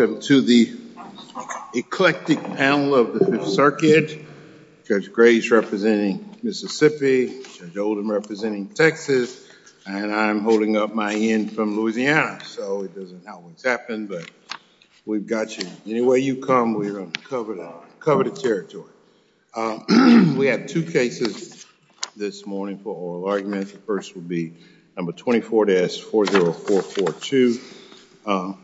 Welcome to the eclectic panel of the Fifth Circuit. Judge Graves representing Mississippi, Judge Oldham representing Texas, and I'm holding up my end from Louisiana, so it doesn't always happen, but we've got you. Anywhere you come, we're going to cover the territory. We have two cases this morning for oral arguments. The first would be number 24-40442.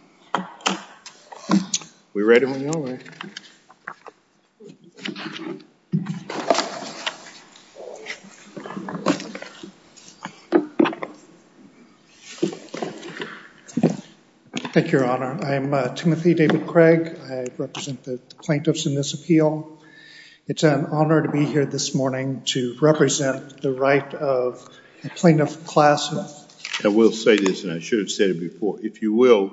We're ready when you're ready. Thank you, Your Honor. I'm Timothy David Craig. I represent the plaintiffs in this appeal. It's an honor to be here this morning to represent the right of a plaintiff's class. I will say this, and I should have said it before. If you will,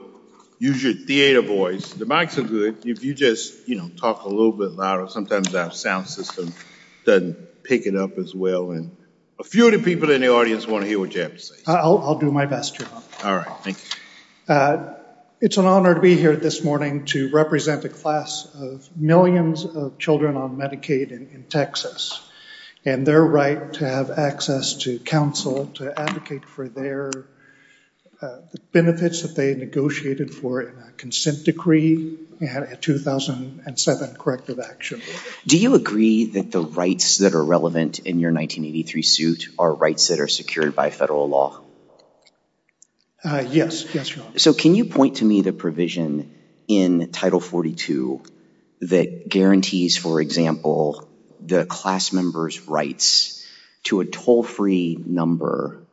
use your theater voice. The mics are good. If you just, you know, talk a little bit louder, sometimes our sound system doesn't pick it up as well, and a few of the people in the audience want to hear what you have to say. I'll do my best, Your Honor. All right, thank you. It's an honor to be here this morning to represent a class of millions of children on Medicaid in Texas and their right to have access to counsel to advocate for their benefits that they negotiated for in a consent decree and a 2007 corrective action. Do you agree that the rights that are relevant in your 1983 suit are rights that are secured by federal law? Yes, yes, Your Honor. So can you point to me the provision in Title 42 that guarantees, for example, the class member's rights to a toll-free number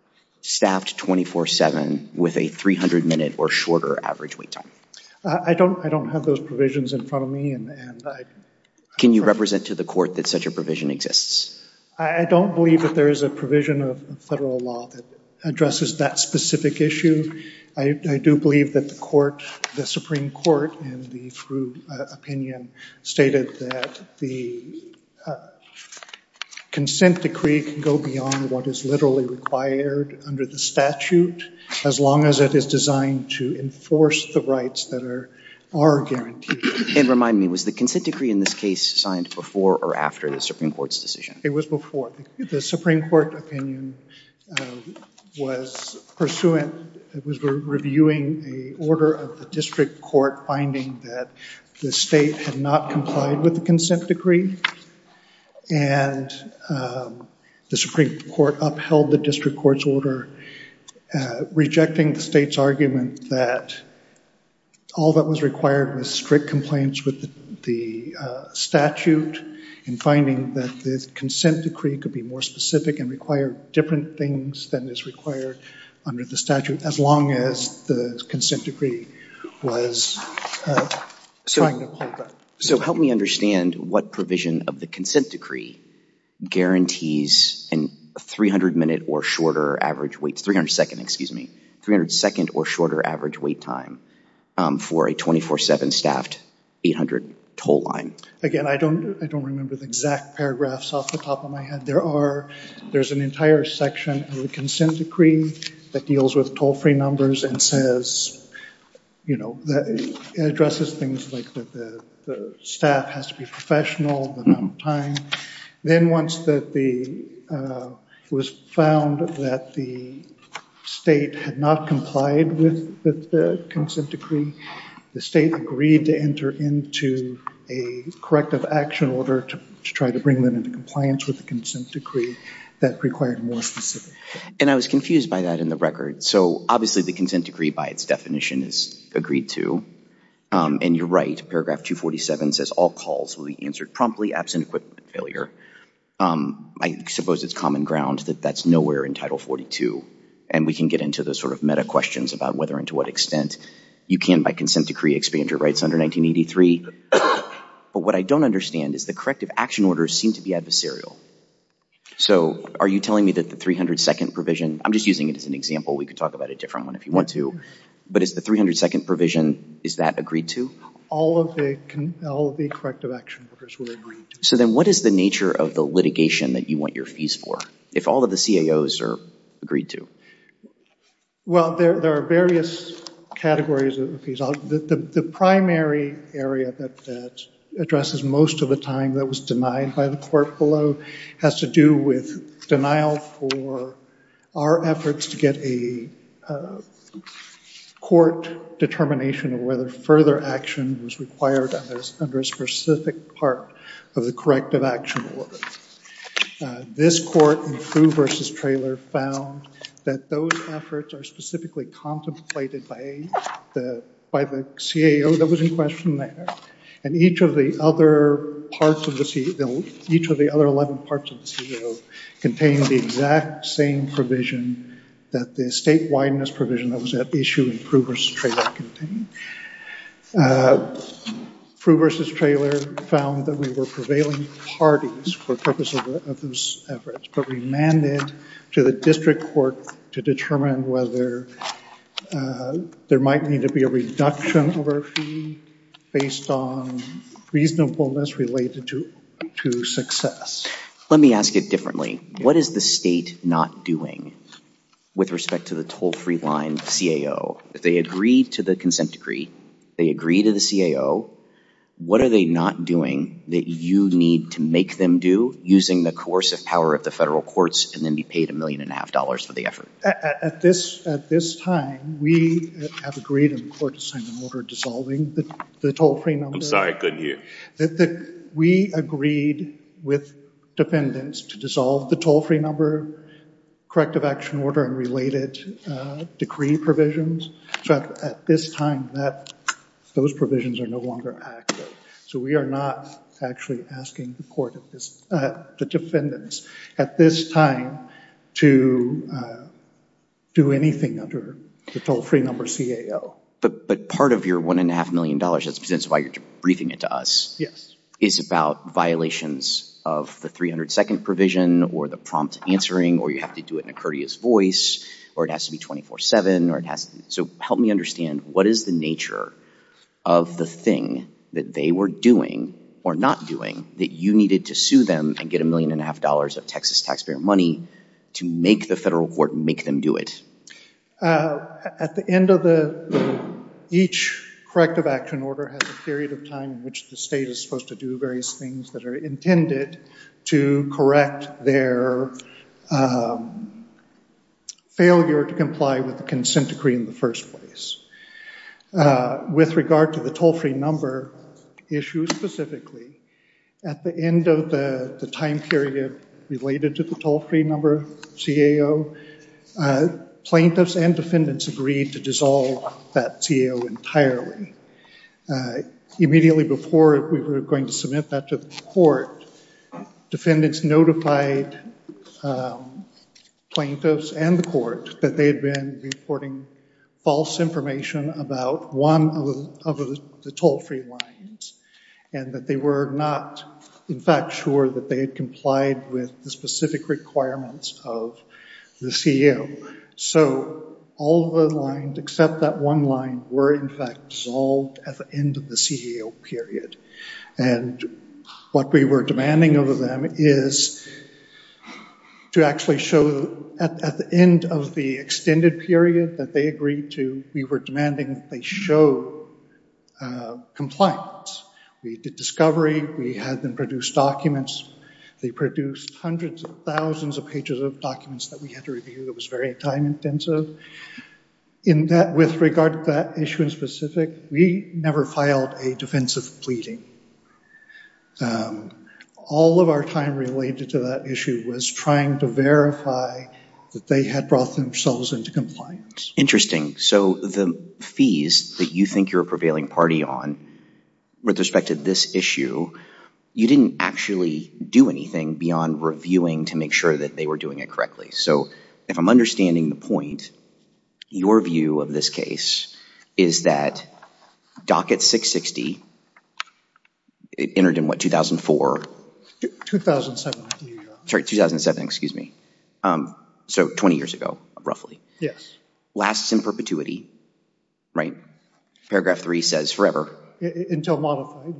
staffed 24-7 with a 300-minute or shorter average wait time? I don't have those provisions in front of me. Can you represent to the court that such a provision exists? I don't believe that there is a provision of federal law that addresses that specific issue. I do believe that the Supreme Court in the Frueh opinion stated that the consent decree can go beyond what is literally required under the statute as long as it is designed to enforce the rights that are guaranteed. And remind me, was the consent decree in this case signed before or after the Supreme Court's decision? It was before. The Supreme Court opinion was pursuant, it was reviewing a order of the district court finding that the state had not complied with the consent decree and the Supreme Court upheld the district court's order rejecting the state's argument that all that was required was strict complaints with the statute and finding that the consent decree could be more specific and require different things than is required under the statute as long as the consent decree was signed up for that. So help me understand what provision of the consent decree guarantees a 300-minute or shorter average wait, 300-second, excuse me, 300-second or shorter average wait time for a 24-7 staffed 800 toll line? Again, I don't remember the exact paragraphs off the top of my head. There are, there's an entire section of the consent decree that deals with toll-free numbers and says, you know, addresses things like the staff has to be professional, the amount of time. Then once the, it was found that the state had not complied with the consent decree, the state agreed to enter into a corrective action order to try to bring them into compliance with the consent decree that required more specific. And I was confused by that in the record. So obviously the consent decree by its definition is agreed to. And you're right, paragraph 247 says all calls will be answered promptly absent of equipment failure. I suppose it's common ground that that's nowhere in Title 42. And we can get into the sort of meta questions about whether and to what extent you can by consent decree expand your rights under 1983. But what I don't understand is the corrective action orders seem to be adversarial. So are you telling me that the 300-second provision, I'm just using it as an example. We could talk about a different one if you want to. But is the 300-second provision, is that agreed to? All of the corrective action orders were agreed to. So then what is the nature of the litigation that you want your fees for if all of the CAOs are agreed to? Well, there are various categories of fees. The primary area that addresses most of the time that was denied by the court below has to do with denial for our efforts to get a court determination of whether further action was required under a specific part of the corrective action order. This court in Prue v. Traylor found that those efforts are specifically contemplated by the CAO that was in question there. And each of the other 11 parts of the CAO contained the exact same provision that the statewide provision that was at issue in Prue v. Traylor contained. Prue v. Traylor found that we were prevailing parties for the purpose of those efforts, but we manned it to the district court to determine whether there might need to be a reduction of our fee based on reasonableness related to success. Let me ask it differently. What is the state not doing with respect to the toll-free line CAO? If they agree to the consent decree, they agree to the CAO, what are they not doing that you need to make them do using the coercive power of the federal courts and then be paid a million and a half dollars for the effort? At this time, we have agreed in the court to sign an order dissolving the toll-free number. I'm sorry, I couldn't hear. We agreed with defendants to dissolve the toll-free number corrective action order and related decree provisions. So at this time, those provisions are no longer active. So we are not actually asking the court, the defendants at this time to do anything under the toll-free number CAO. But part of your one and a half million dollars, that's why you're briefing it to us. Yes. Is about violations of the 300 second provision or the prompt answering or you have to do it in a courteous voice or it has to be 24-7 or it has to be. So help me understand, what is the nature of the thing that they were doing or not doing that you needed to sue them and get a million and a half dollars of Texas taxpayer money to make the federal court make them do it? At the end of the each corrective action order has a period of time in which the state is supposed to do various things that are intended to correct their failure to comply with the consent decree in the first place. With regard to the toll-free number issue specifically, at the end of the time period related to the toll-free number CAO, plaintiffs and defendants agreed to dissolve that CAO entirely. Immediately before we were going to submit that to the court, defendants notified plaintiffs and the court that they had been reporting false information about one of the toll-free lines and that they were not in fact sure that they had complied with the specific requirements of the CAO. So all of the lines except that one line were in fact dissolved at the end of the CAO period. And what we were demanding of them is to actually show at the end of the extended period that they agreed to, we were demanding that they show compliance. We did discovery. We had them produce documents. They produced hundreds of thousands of pages of documents that we had to review. It was very time intensive. In that, with regard to that issue in specific, we never filed a defensive pleading. All of our time related to that issue was trying to verify that they had brought themselves into compliance. Interesting. So the fees that you think you're a prevailing party on with respect to this issue, you didn't actually do anything beyond reviewing to make sure that they were doing it correctly. So if I'm understanding the point, your view of this case is that docket 660 entered in what, 2004? 2007. Sorry, 2007, excuse me. So 20 years ago, roughly. Yes. Lasts in perpetuity, right? Paragraph 3 says forever. Until modified.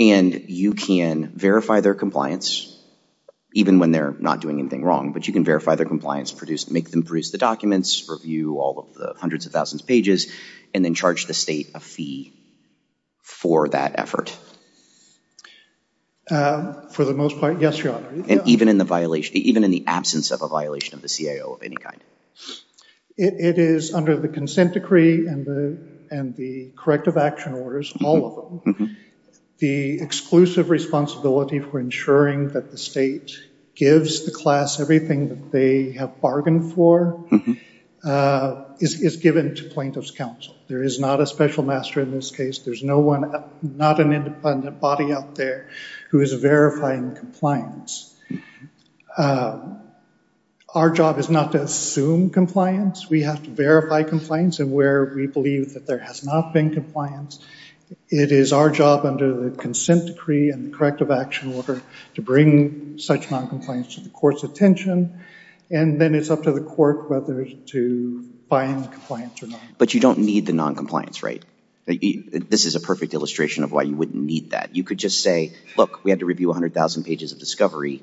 And you can verify their compliance even when they're not doing anything wrong. But you can verify their compliance, make them produce the documents, review all of the hundreds of thousands of pages, and then charge the state a fee for that effort. For the most part, yes, Your Honor. And even in the absence of a violation of the CAO of any kind? It is under the consent decree and the corrective action orders, all of them, the exclusive responsibility for ensuring that the state gives the class everything that they have bargained for is given to plaintiff's counsel. There is not a special master in this case. There's no one, not an independent body out there who is verifying compliance. Our job is not to assume compliance. We have to verify compliance. And where we believe that there has not been compliance, it is our job under the consent decree and corrective action order to bring such noncompliance to the court's attention. And then it's up to the court whether to find compliance or not. But you don't need the noncompliance, right? This is a perfect illustration of why you wouldn't need that. You could just say, look, we had to review 100,000 pages of discovery.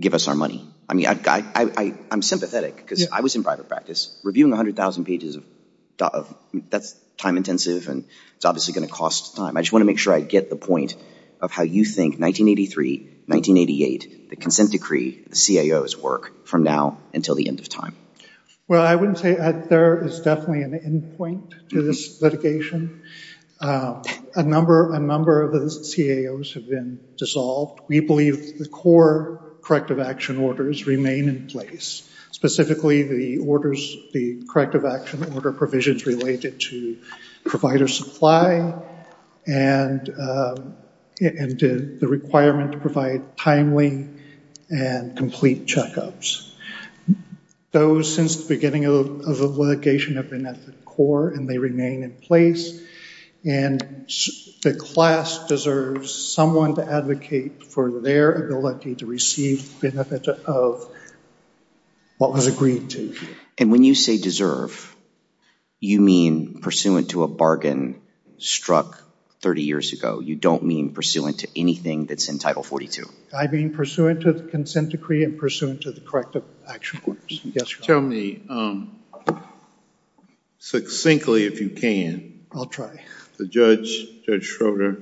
Give us our money. I mean, I'm sympathetic because I was in private practice. Reviewing 100,000 pages, that's time intensive. And it's obviously going to cost time. I just want to make sure I get the point of how you think 1983, 1988, the consent decree, the CAOs work from now until the end of time. Well, I would say there is definitely an end point to this litigation. A number of the CAOs have been dissolved. We believe the core corrective action orders remain in place. Specifically, the orders, the corrective action order provisions related to provider supply and the requirement to provide timely and complete checkups. Those since the beginning of the litigation have been at the core, and they remain in place. And the class deserves someone to advocate for their ability to receive benefit of what was agreed to. And when you say deserve, you mean pursuant to a bargain struck 30 years ago. You don't mean pursuant to anything that's in Title 42. I mean pursuant to the consent decree and pursuant to the corrective action orders. Yes, Your Honor. Tell me succinctly, if you can. I'll try. The judge, Judge Schroeder,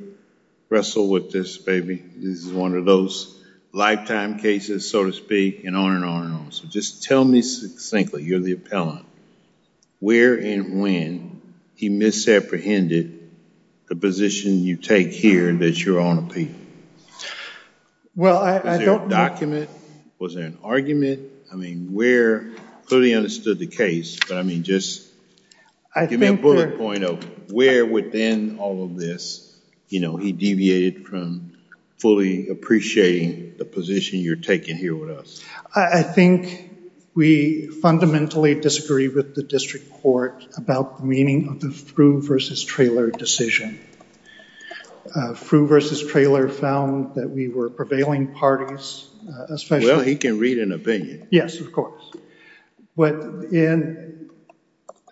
wrestled with this baby. This is one of those lifetime cases, so to speak, and on and on and on. So just tell me succinctly. You're the appellant. Where and when he misapprehended the position you take here that you're on appeal? Well, I don't know. Was there a document? Was there an argument? I mean, where? Clearly understood the case, but I mean, just give me a bullet point of where within all of this, you know, he deviated from fully appreciating the position you're taking here with us. I think we fundamentally disagree with the district court about the meaning of the Frueh versus Traylor decision. Frueh versus Traylor found that we were prevailing parties, especially. Well, he can read an opinion. Yes, of course. But in.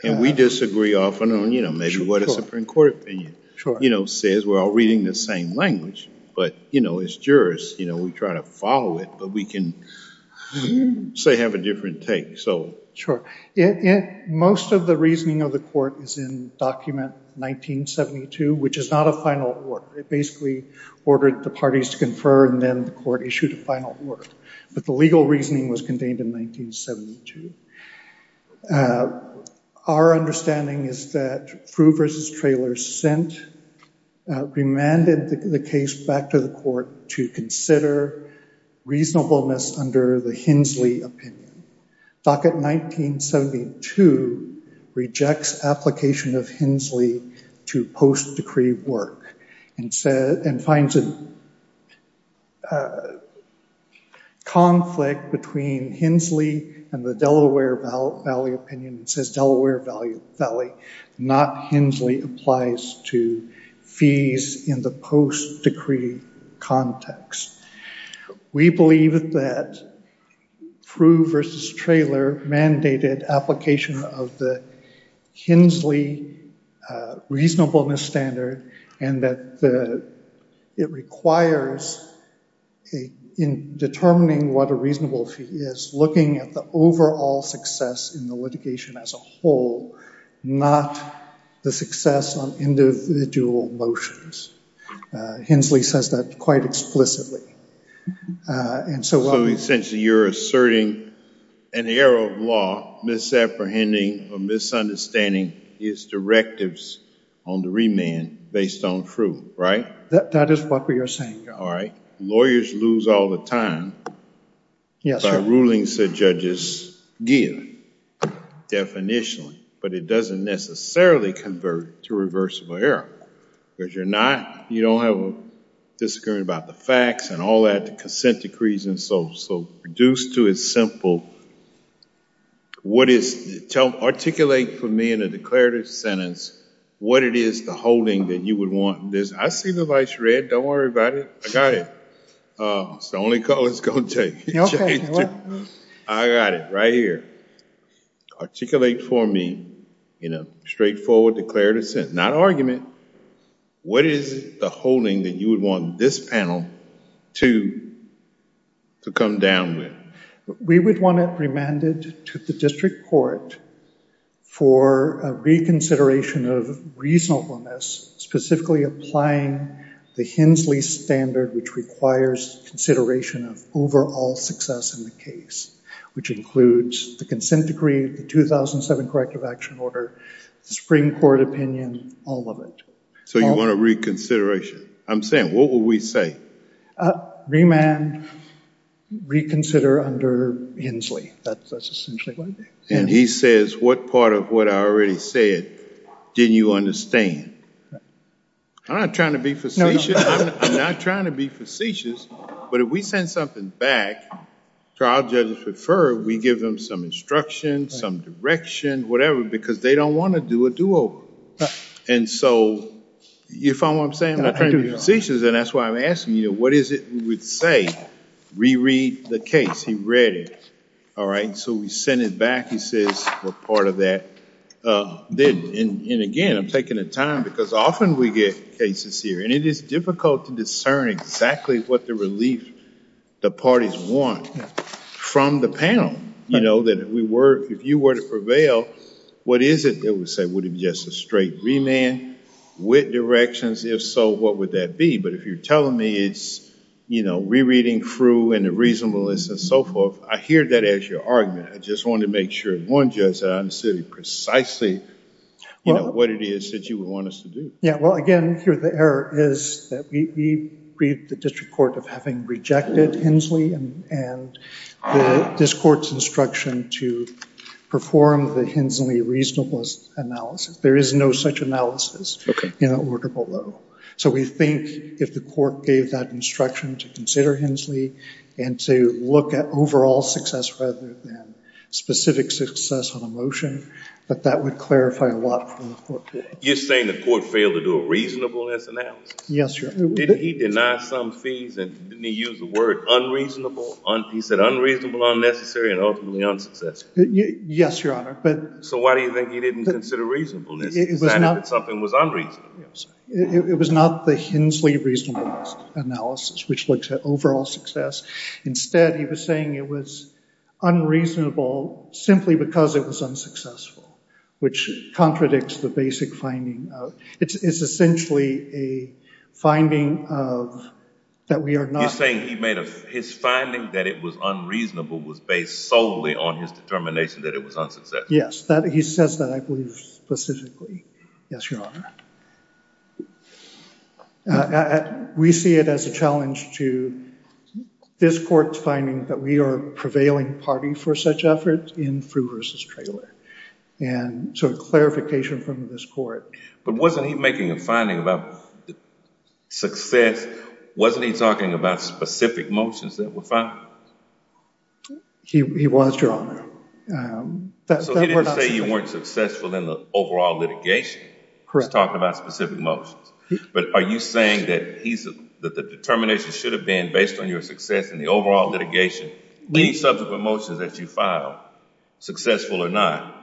And we disagree often on, you know, maybe what a Supreme Court opinion. Sure. You know, says we're all reading the same language. But, you know, as jurors, you know, we try to follow it. But we can, say, have a different take. Most of the reasoning of the court is in document 1972, which is not a final order. It basically ordered the parties to confer, and then the court issued a final word. But the legal reasoning was contained in 1972. Our understanding is that Frueh versus Traylor sent, remanded the case back to the court to consider reasonableness under the Hinsley opinion. Docket 1972 rejects application of Hinsley to post-decree work, and finds a conflict between Hinsley and the Delaware Valley opinion. It says Delaware Valley, not Hinsley, applies to fees in the post-decree context. We believe that Frueh versus Traylor mandated application of the Hinsley reasonableness standard, and that it requires, in determining what a reasonable fee is, looking at the overall success in the litigation as a whole, not the success on individual motions. Hinsley says that quite explicitly. And so while we- So essentially, you're asserting an error of law, misapprehending or misunderstanding his directives on the remand based on Frueh, right? That is what we are saying, Your Honor. All right. Lawyers lose all the time by ruling, said judges, given, definitionally. But it doesn't necessarily convert to reversible error, because you're not, you don't have a disagreement about the facts and all that, the consent decrees and so forth. Reduce to a simple, what is, articulate for me in a declarative sentence, what it is, the holding that you would want this- I see the light's red, don't worry about it, I got it. It's the only color it's going to change to. I got it, right here. Articulate for me in a straightforward declarative sentence, not argument, what is the holding that you would want this panel to come down with? We would want it remanded to the district court for a reconsideration of reasonableness, specifically applying the Hensley standard, which requires consideration of overall success in the case, which includes the consent decree, the 2007 corrective action order, Supreme Court opinion, all of it. So you want a reconsideration? I'm saying, what would we say? Remand, reconsider under Hensley, that's essentially what it is. And he says, what part of what I already said didn't you understand? I'm not trying to be facetious, I'm not trying to be facetious, but if we send something back, trial judges prefer we give them some instruction, some direction, whatever, because they don't want to do a do-over. And so, you follow what I'm saying? I'm not trying to be facetious, and that's why I'm asking you, what is it we would say? Reread the case, he read it, all right? So we send it back, he says, what part of that didn't? And again, I'm taking the time, because often we get cases here, and it is difficult to discern exactly what the relief the parties want from the panel, that if you were to prevail, what is it that we say? Would it be just a straight remand, with directions? If so, what would that be? But if you're telling me it's rereading through, and the reasonableness, and so forth, I hear that as your argument. I just wanted to make sure, as one judge, that I understood precisely what it is that you would want us to do. Yeah, well, again, the error is that we read the district court of having rejected Hensley, and this court's instruction to perform the Hensley reasonableness analysis. There is no such analysis in order below. So we think if the court gave that instruction to consider Hensley, and to look at overall success rather than specific success on a motion, that that would clarify a lot from the court. You're saying the court failed to do a reasonableness analysis? Yes, Your Honor. He denied some fees, and didn't he use the word unreasonable? He said unreasonable, unnecessary, and ultimately unsuccessful. Yes, Your Honor. So why do you think he didn't consider reasonableness? It was not something that was unreasonable. It was not the Hensley reasonableness analysis, which looks at overall success. Instead, he was saying it was unreasonable simply because it was unsuccessful, which contradicts the basic finding. It's essentially a finding of that we are not. You're saying his finding that it was unreasonable was based solely on his determination that it was unsuccessful? Yes. He says that, I believe, specifically. Yes, Your Honor. We see it as a challenge to this court's finding that we are a prevailing party for such efforts in Fruehers' trailer. And so a clarification from this court. But wasn't he making a finding about success? Wasn't he talking about specific motions that were filed? He was, Your Honor. So he didn't say you weren't successful in the overall litigation. He was talking about specific motions. But are you saying that the determination should have been based on your success in the overall litigation, these subsequent motions that you filed, successful or not?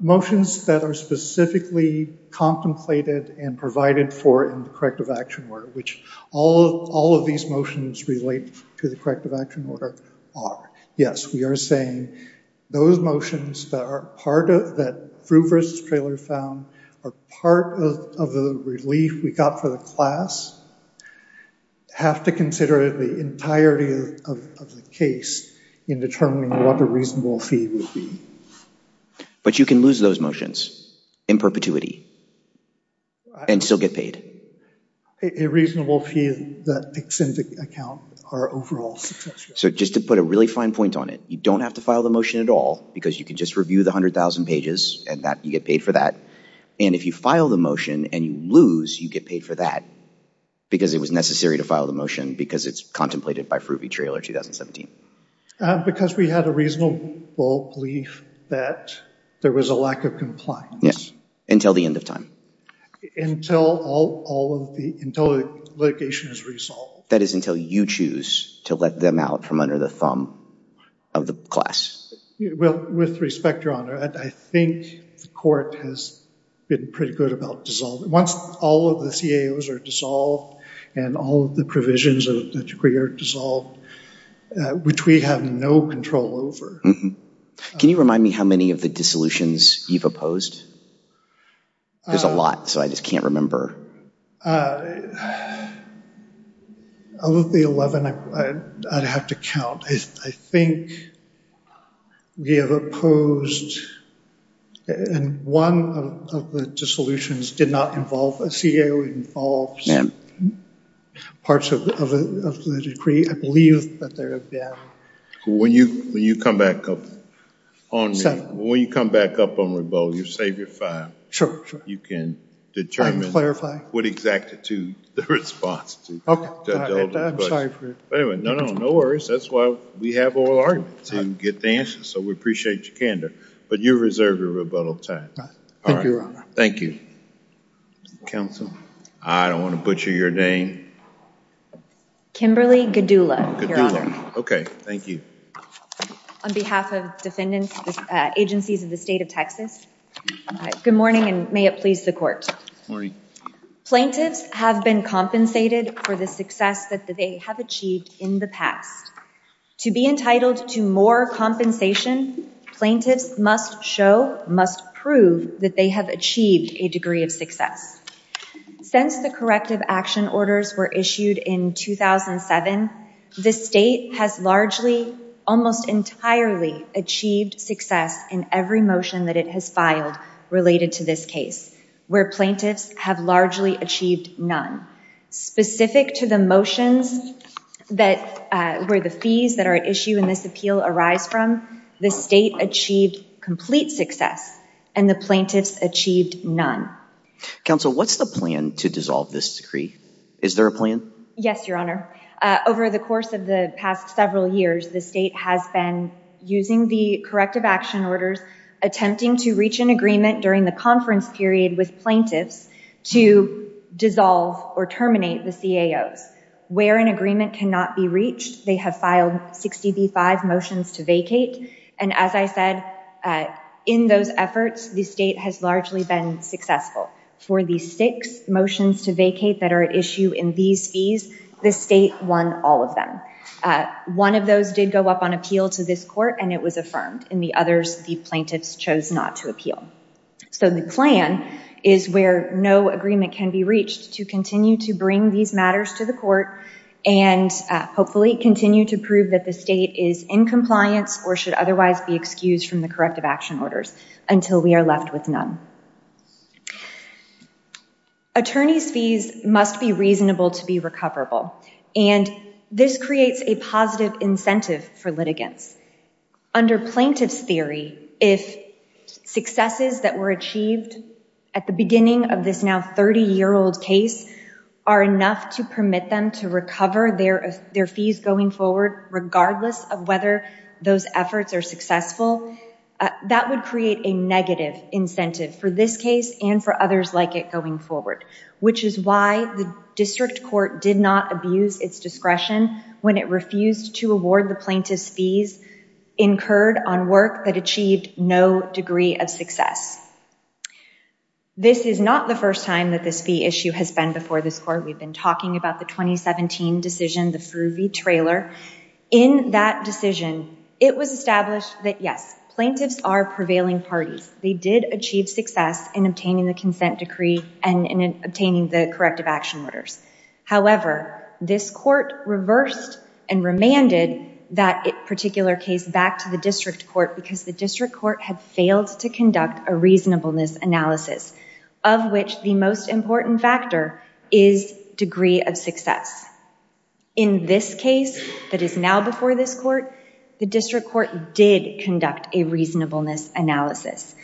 Motions that are specifically contemplated and provided for in the corrective action order, which all of these motions relate to the corrective action order are. Yes, we are saying those motions that Fruehers' trailer found are part of the relief we got for the class have to consider the entirety of the case in determining what the reasonable fee would be. But you can lose those motions in perpetuity and still get paid. A reasonable fee that takes into account our overall success. So just to put a really fine point on it, you don't have to file the motion at all, because you can just review the 100,000 pages and you get paid for that. And if you file the motion and you lose, you get paid for that because it was necessary to file the motion because it's contemplated by Fruehers' trailer 2017. Because we had a reasonable belief that there was a lack of compliance. Until the end of time. Until all of the litigation is resolved. That is until you choose to let them out from under the thumb of the class. With respect, Your Honor, I think the court has been pretty good about dissolving. Once all of the CAOs are dissolved and all of the provisions of the degree are dissolved, which we have no control over. Can you remind me how many of the dissolutions you've opposed? There's a lot, so I just can't remember. Of the 11, I'd have to count. I think we have opposed, and one of the dissolutions did not involve a CAO. It involves parts of the decree. I believe that there have been. When you come back up on me. When you come back up on me, Bo, you've saved your file. Sure, sure. You can determine what exactitude the response to. Okay, I'm sorry for it. Anyway, no, no, no worries. That's why we have oral arguments and get the answers, so we appreciate your candor, but you reserve your rebuttal time. Thank you, Your Honor. Thank you. Counsel, I don't want to butcher your name. Kimberly Gadula, Your Honor. Okay, thank you. On behalf of defendants, agencies of the state of Texas, good morning and may it please the court. Morning. Plaintiffs have been compensated for the success that they have achieved in the past. To be entitled to more compensation, plaintiffs must show, must prove, that they have achieved a degree of success. Since the corrective action orders were issued in 2007, the state has largely, almost entirely, achieved success in every motion that it has filed related to this case, where plaintiffs have largely achieved none. Specific to the motions that, where the fees that are at issue in this appeal arise from, the state achieved complete success and the plaintiffs achieved none. Counsel, what's the plan to dissolve this decree? Is there a plan? Yes, Your Honor. Over the course of the past several years, the state has been using the corrective action orders, attempting to reach an agreement during the conference period with plaintiffs to dissolve or terminate the CAOs. Where an agreement cannot be reached, they have filed 65 motions to vacate. And as I said, in those efforts, the state has largely been successful. For the six motions to vacate that are at issue in these fees, the state won all of them. One of those did go up on appeal to this court and it was affirmed. In the others, the plaintiffs chose not to appeal. So the plan is where no agreement can be reached to continue to bring these matters to the court and hopefully continue to prove that the state is in compliance or should otherwise be excused from the corrective action orders until we are left with none. Attorney's fees must be reasonable to be recoverable. And this creates a positive incentive for litigants. Under plaintiff's theory, if successes that were achieved at the beginning of this now 30-year-old case are enough to permit them to recover their fees going forward, regardless of whether those efforts are successful, that would create a negative incentive for this case and for others like it going forward, which is why the district court did not abuse its discretion when it refused to award the plaintiff's fees incurred on work that achieved no degree of success. This is not the first time that this fee issue has been before this court. We've been talking about the 2017 decision, the Fruvi trailer. In that decision, it was established that yes, plaintiffs are prevailing parties. They did achieve success in obtaining the consent decree and in obtaining the corrective action orders. However, this court reversed and remanded that particular case back to the district court because the district court had failed to conduct a reasonableness analysis, of which the most important factor is degree of success. In this case that is now before this court, the district court did conduct a reasonableness analysis.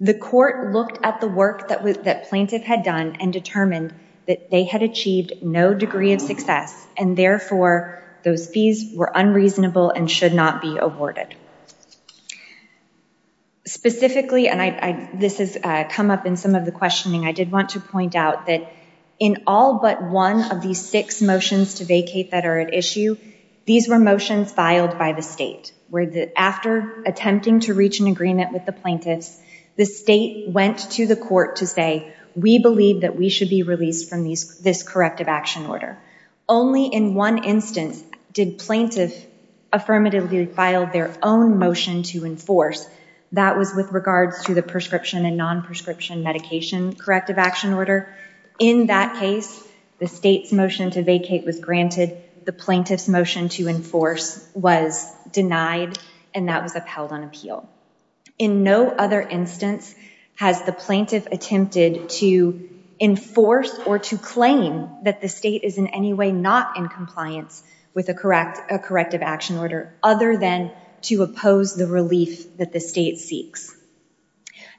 The court looked at the work that plaintiff had done and determined that they had achieved no degree of success and therefore those fees were unreasonable and should not be awarded. Specifically, and this has come up in some of the questioning, I did want to point out that in all but one of these six motions to vacate that are at issue, these were motions filed by the state where after attempting to reach an agreement with the plaintiffs, the state went to the court to say, we believe that we should be released from this corrective action order. Only in one instance did plaintiff affirmatively file their own motion to enforce. That was with regards to the prescription and non-prescription medication corrective action order. In that case, the state's motion to vacate was granted. The plaintiff's motion to enforce was denied and that was upheld on appeal. In no other instance has the plaintiff attempted to enforce or to claim that the state is in any way not in compliance with a corrective action order other than to oppose the relief that the state seeks.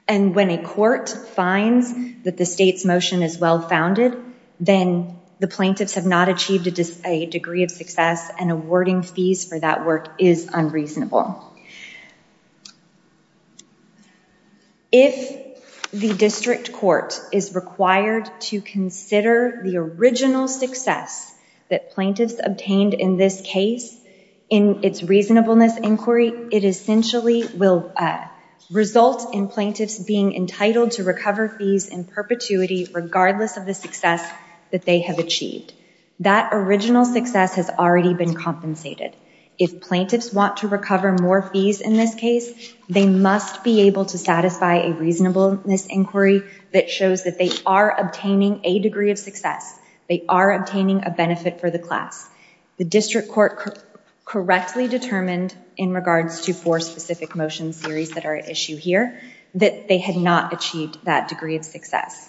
And when a court finds that the state's motion is well-founded, then the plaintiffs have not achieved a degree of success and awarding fees for that work is unreasonable. If the district court is required to consider the original success that plaintiffs obtained in this case in its reasonableness inquiry, it essentially will result in plaintiffs being entitled to recover fees in perpetuity regardless of the success that they have achieved. That original success has already been compensated. If plaintiffs want to recover more fees in this case, they must be able to satisfy a reasonableness inquiry that shows that they are obtaining a degree of success. They are obtaining a benefit for the class. The district court correctly determined in regards to four specific motion series that are at issue here that they had not achieved that degree of success.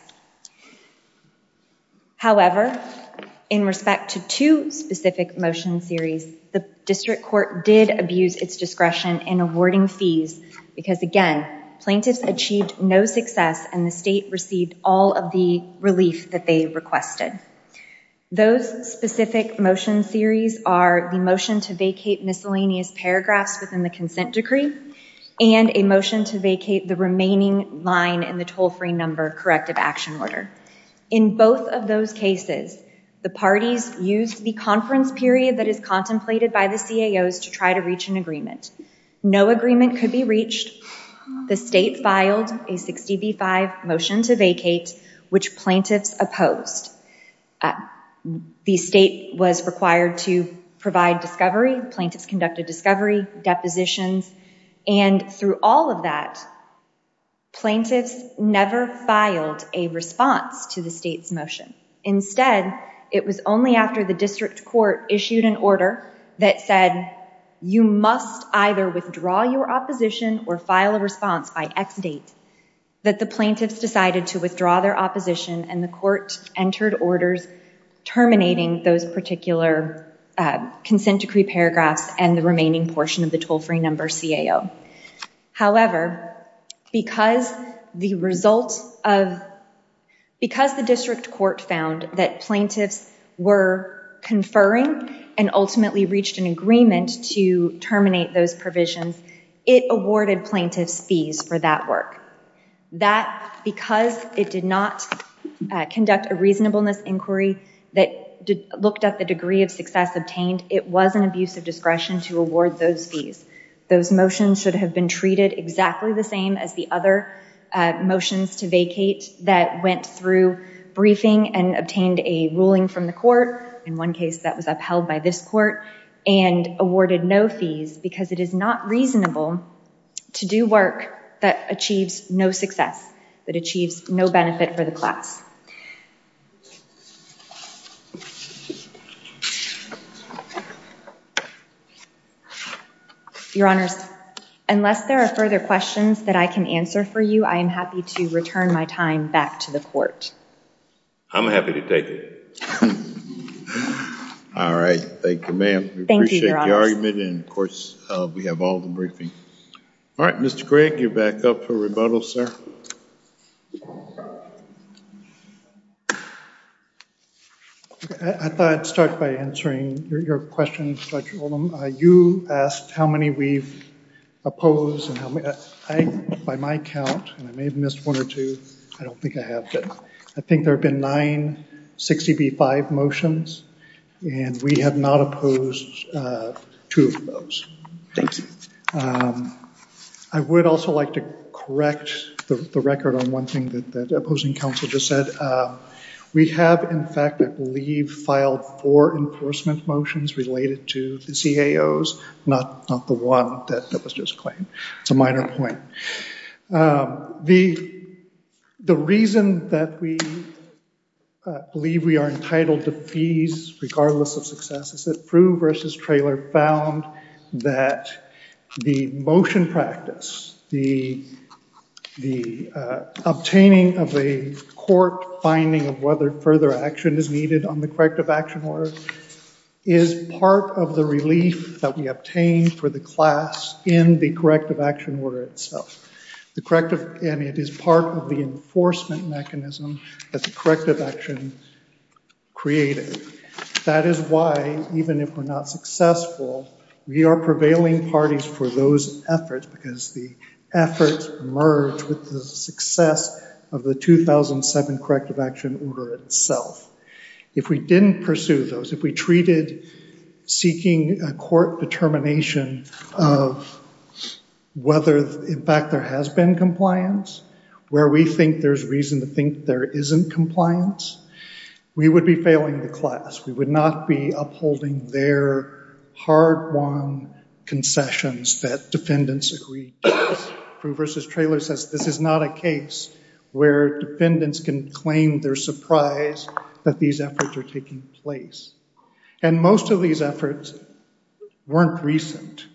However, in respect to two specific motion series, the district court did abuse its discretion in awarding fees because again, plaintiffs achieved no success and the state received all of the relief that they requested. Those specific motion series are the motion to vacate miscellaneous paragraphs within the consent decree and a motion to vacate the remaining line in the toll-free number corrective action order. In both of those cases, the parties used the conference period that is contemplated by the CAOs to try to reach an agreement. No agreement could be reached. The state filed a 60B-5 motion to vacate which plaintiffs opposed. The state was required to provide discovery, plaintiffs conducted discovery, depositions and through all of that, plaintiffs never filed a response to the state's motion. Instead, it was only after the district court issued an order that said, you must either withdraw your opposition or file a response by X date that the plaintiffs decided to withdraw their opposition and the court entered orders terminating those particular consent decree paragraphs and the remaining portion of the toll-free number CAO. However, because the result of, because the district court found that plaintiffs were conferring and ultimately reached an agreement to terminate those provisions, it awarded plaintiffs fees for that work. That because it did not conduct a reasonableness inquiry that looked at the degree of success obtained, it was an abuse of discretion to award those fees. Those motions should have been treated exactly the same as the other motions to vacate that went through briefing and obtained a ruling from the court. In one case that was upheld by this court and awarded no fees because it is not reasonable to do work that achieves no success, that achieves no benefit for the class. Your honors, unless there are further questions that I can answer for you, I am happy to return my time back to the court. I'm happy to take it. All right. Thank you, ma'am. Thank you, your honors. We appreciate the argument and of course we have all the briefing. All right, Mr. Gregg, you're back up for rebuttal, sir. I thought I'd start by answering your questions, Dr. Oldham. You asked how many we've opposed and by my count, and I may have missed one or two, I don't think I have, but I think there have been nine 60B5 motions and we have not opposed two of those. Thank you. I would also like to correct the record on one thing that the opposing counsel just said. We have in fact, I believe, filed four enforcement motions related to the CAOs, not the one that was just claimed. It's a minor point. The reason that we believe we are entitled to fees regardless of success is that Prue versus Traylor found that the motion practice, the obtaining of a court finding of whether further action is needed on the corrective action order is part of the relief that we obtained for the class in the corrective action order itself. The corrective, and it is part of the enforcement mechanism that the corrective action created. That is why, even if we're not successful, we are prevailing parties for those efforts because the efforts merge with the success of the 2007 corrective action order itself. If we didn't pursue those, if we treated seeking a court determination of whether, in fact, there has been compliance, where we think there's reason to think there isn't compliance, we would be failing the class. We would not be upholding their hard won concessions that defendants agreed to. Prue versus Traylor says this is not a case where defendants can claim their surprise that these efforts are taking place. And most of these efforts weren't recent.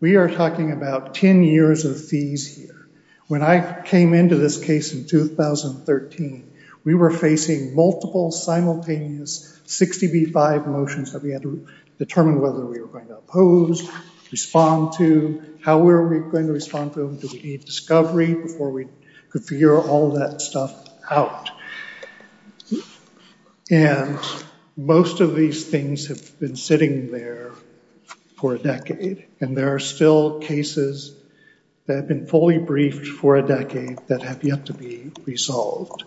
We are talking about 10 years of fees here. When I came into this case in 2013, we were facing multiple simultaneous 60 B-5 motions that we had to determine whether we were going to oppose, respond to, how were we going to respond to them, did we need discovery before we could figure all that stuff out. And most of these things have been sitting there for a decade, and there are still cases that have been fully briefed for a decade that have yet to be resolved.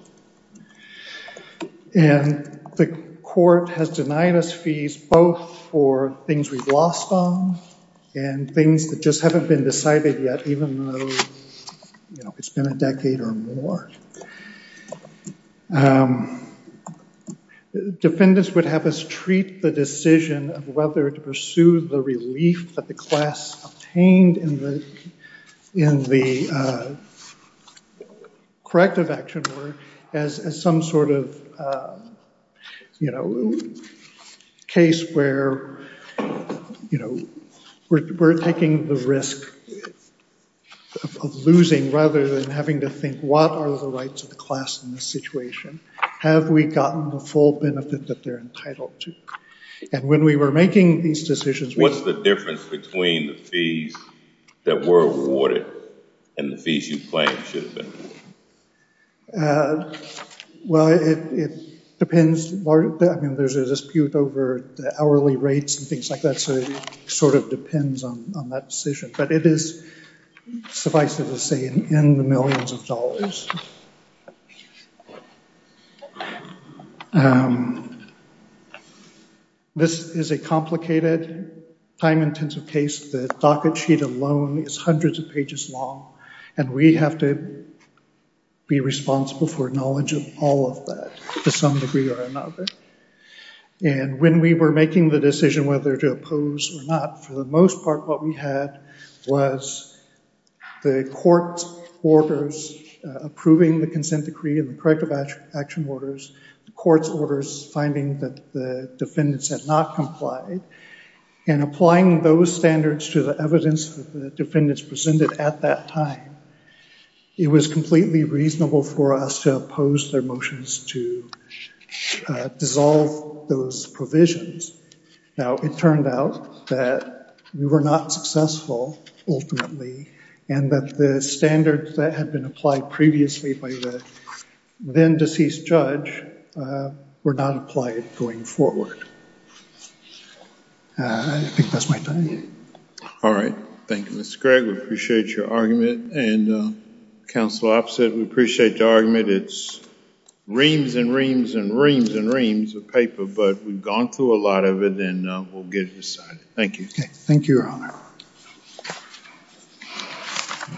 And the court has denied us fees both for things we've lost on and things that just haven't been decided yet, even though it's been a decade or more. Defendants would have us treat the decision of whether to pursue the relief that the class obtained in the corrective action as some sort of case where we're taking the risk of losing rather than having to think, what are the rights of the class in this situation? Have we gotten the full benefit that they're entitled to? And when we were making these decisions, we- What's the difference between the fees that were awarded and the fees you claim should have been? Well, it depends, I mean, there's a dispute over the hourly rates and things like that, so it sort of depends on that decision. But it is suffice it to say in the millions of dollars. This is a complicated, time-intensive case. The docket sheet alone is hundreds of pages long, and we have to be responsible for knowledge of all of that to some degree or another. And when we were making the decision whether to oppose or not, for the most part, what we had was the court's orders approving the consent decree and the corrective action orders, the court's orders finding that the defendants had not complied, and applying those standards to the evidence that the defendants presented at that time, it was completely reasonable for us to oppose their motions to dissolve those provisions. Now, it turned out that we were not successful, ultimately, and that the standards that had been applied previously by the then-deceased judge were not applied going forward. I think that's my time. All right, thank you, Mr. Gregg. We appreciate your argument, and Counsel Oppsitt, we appreciate your argument. It's reams and reams and reams and reams of paper, but we've gone through a lot of it, and we'll get it decided. Thank you. Okay, thank you, Your Honor.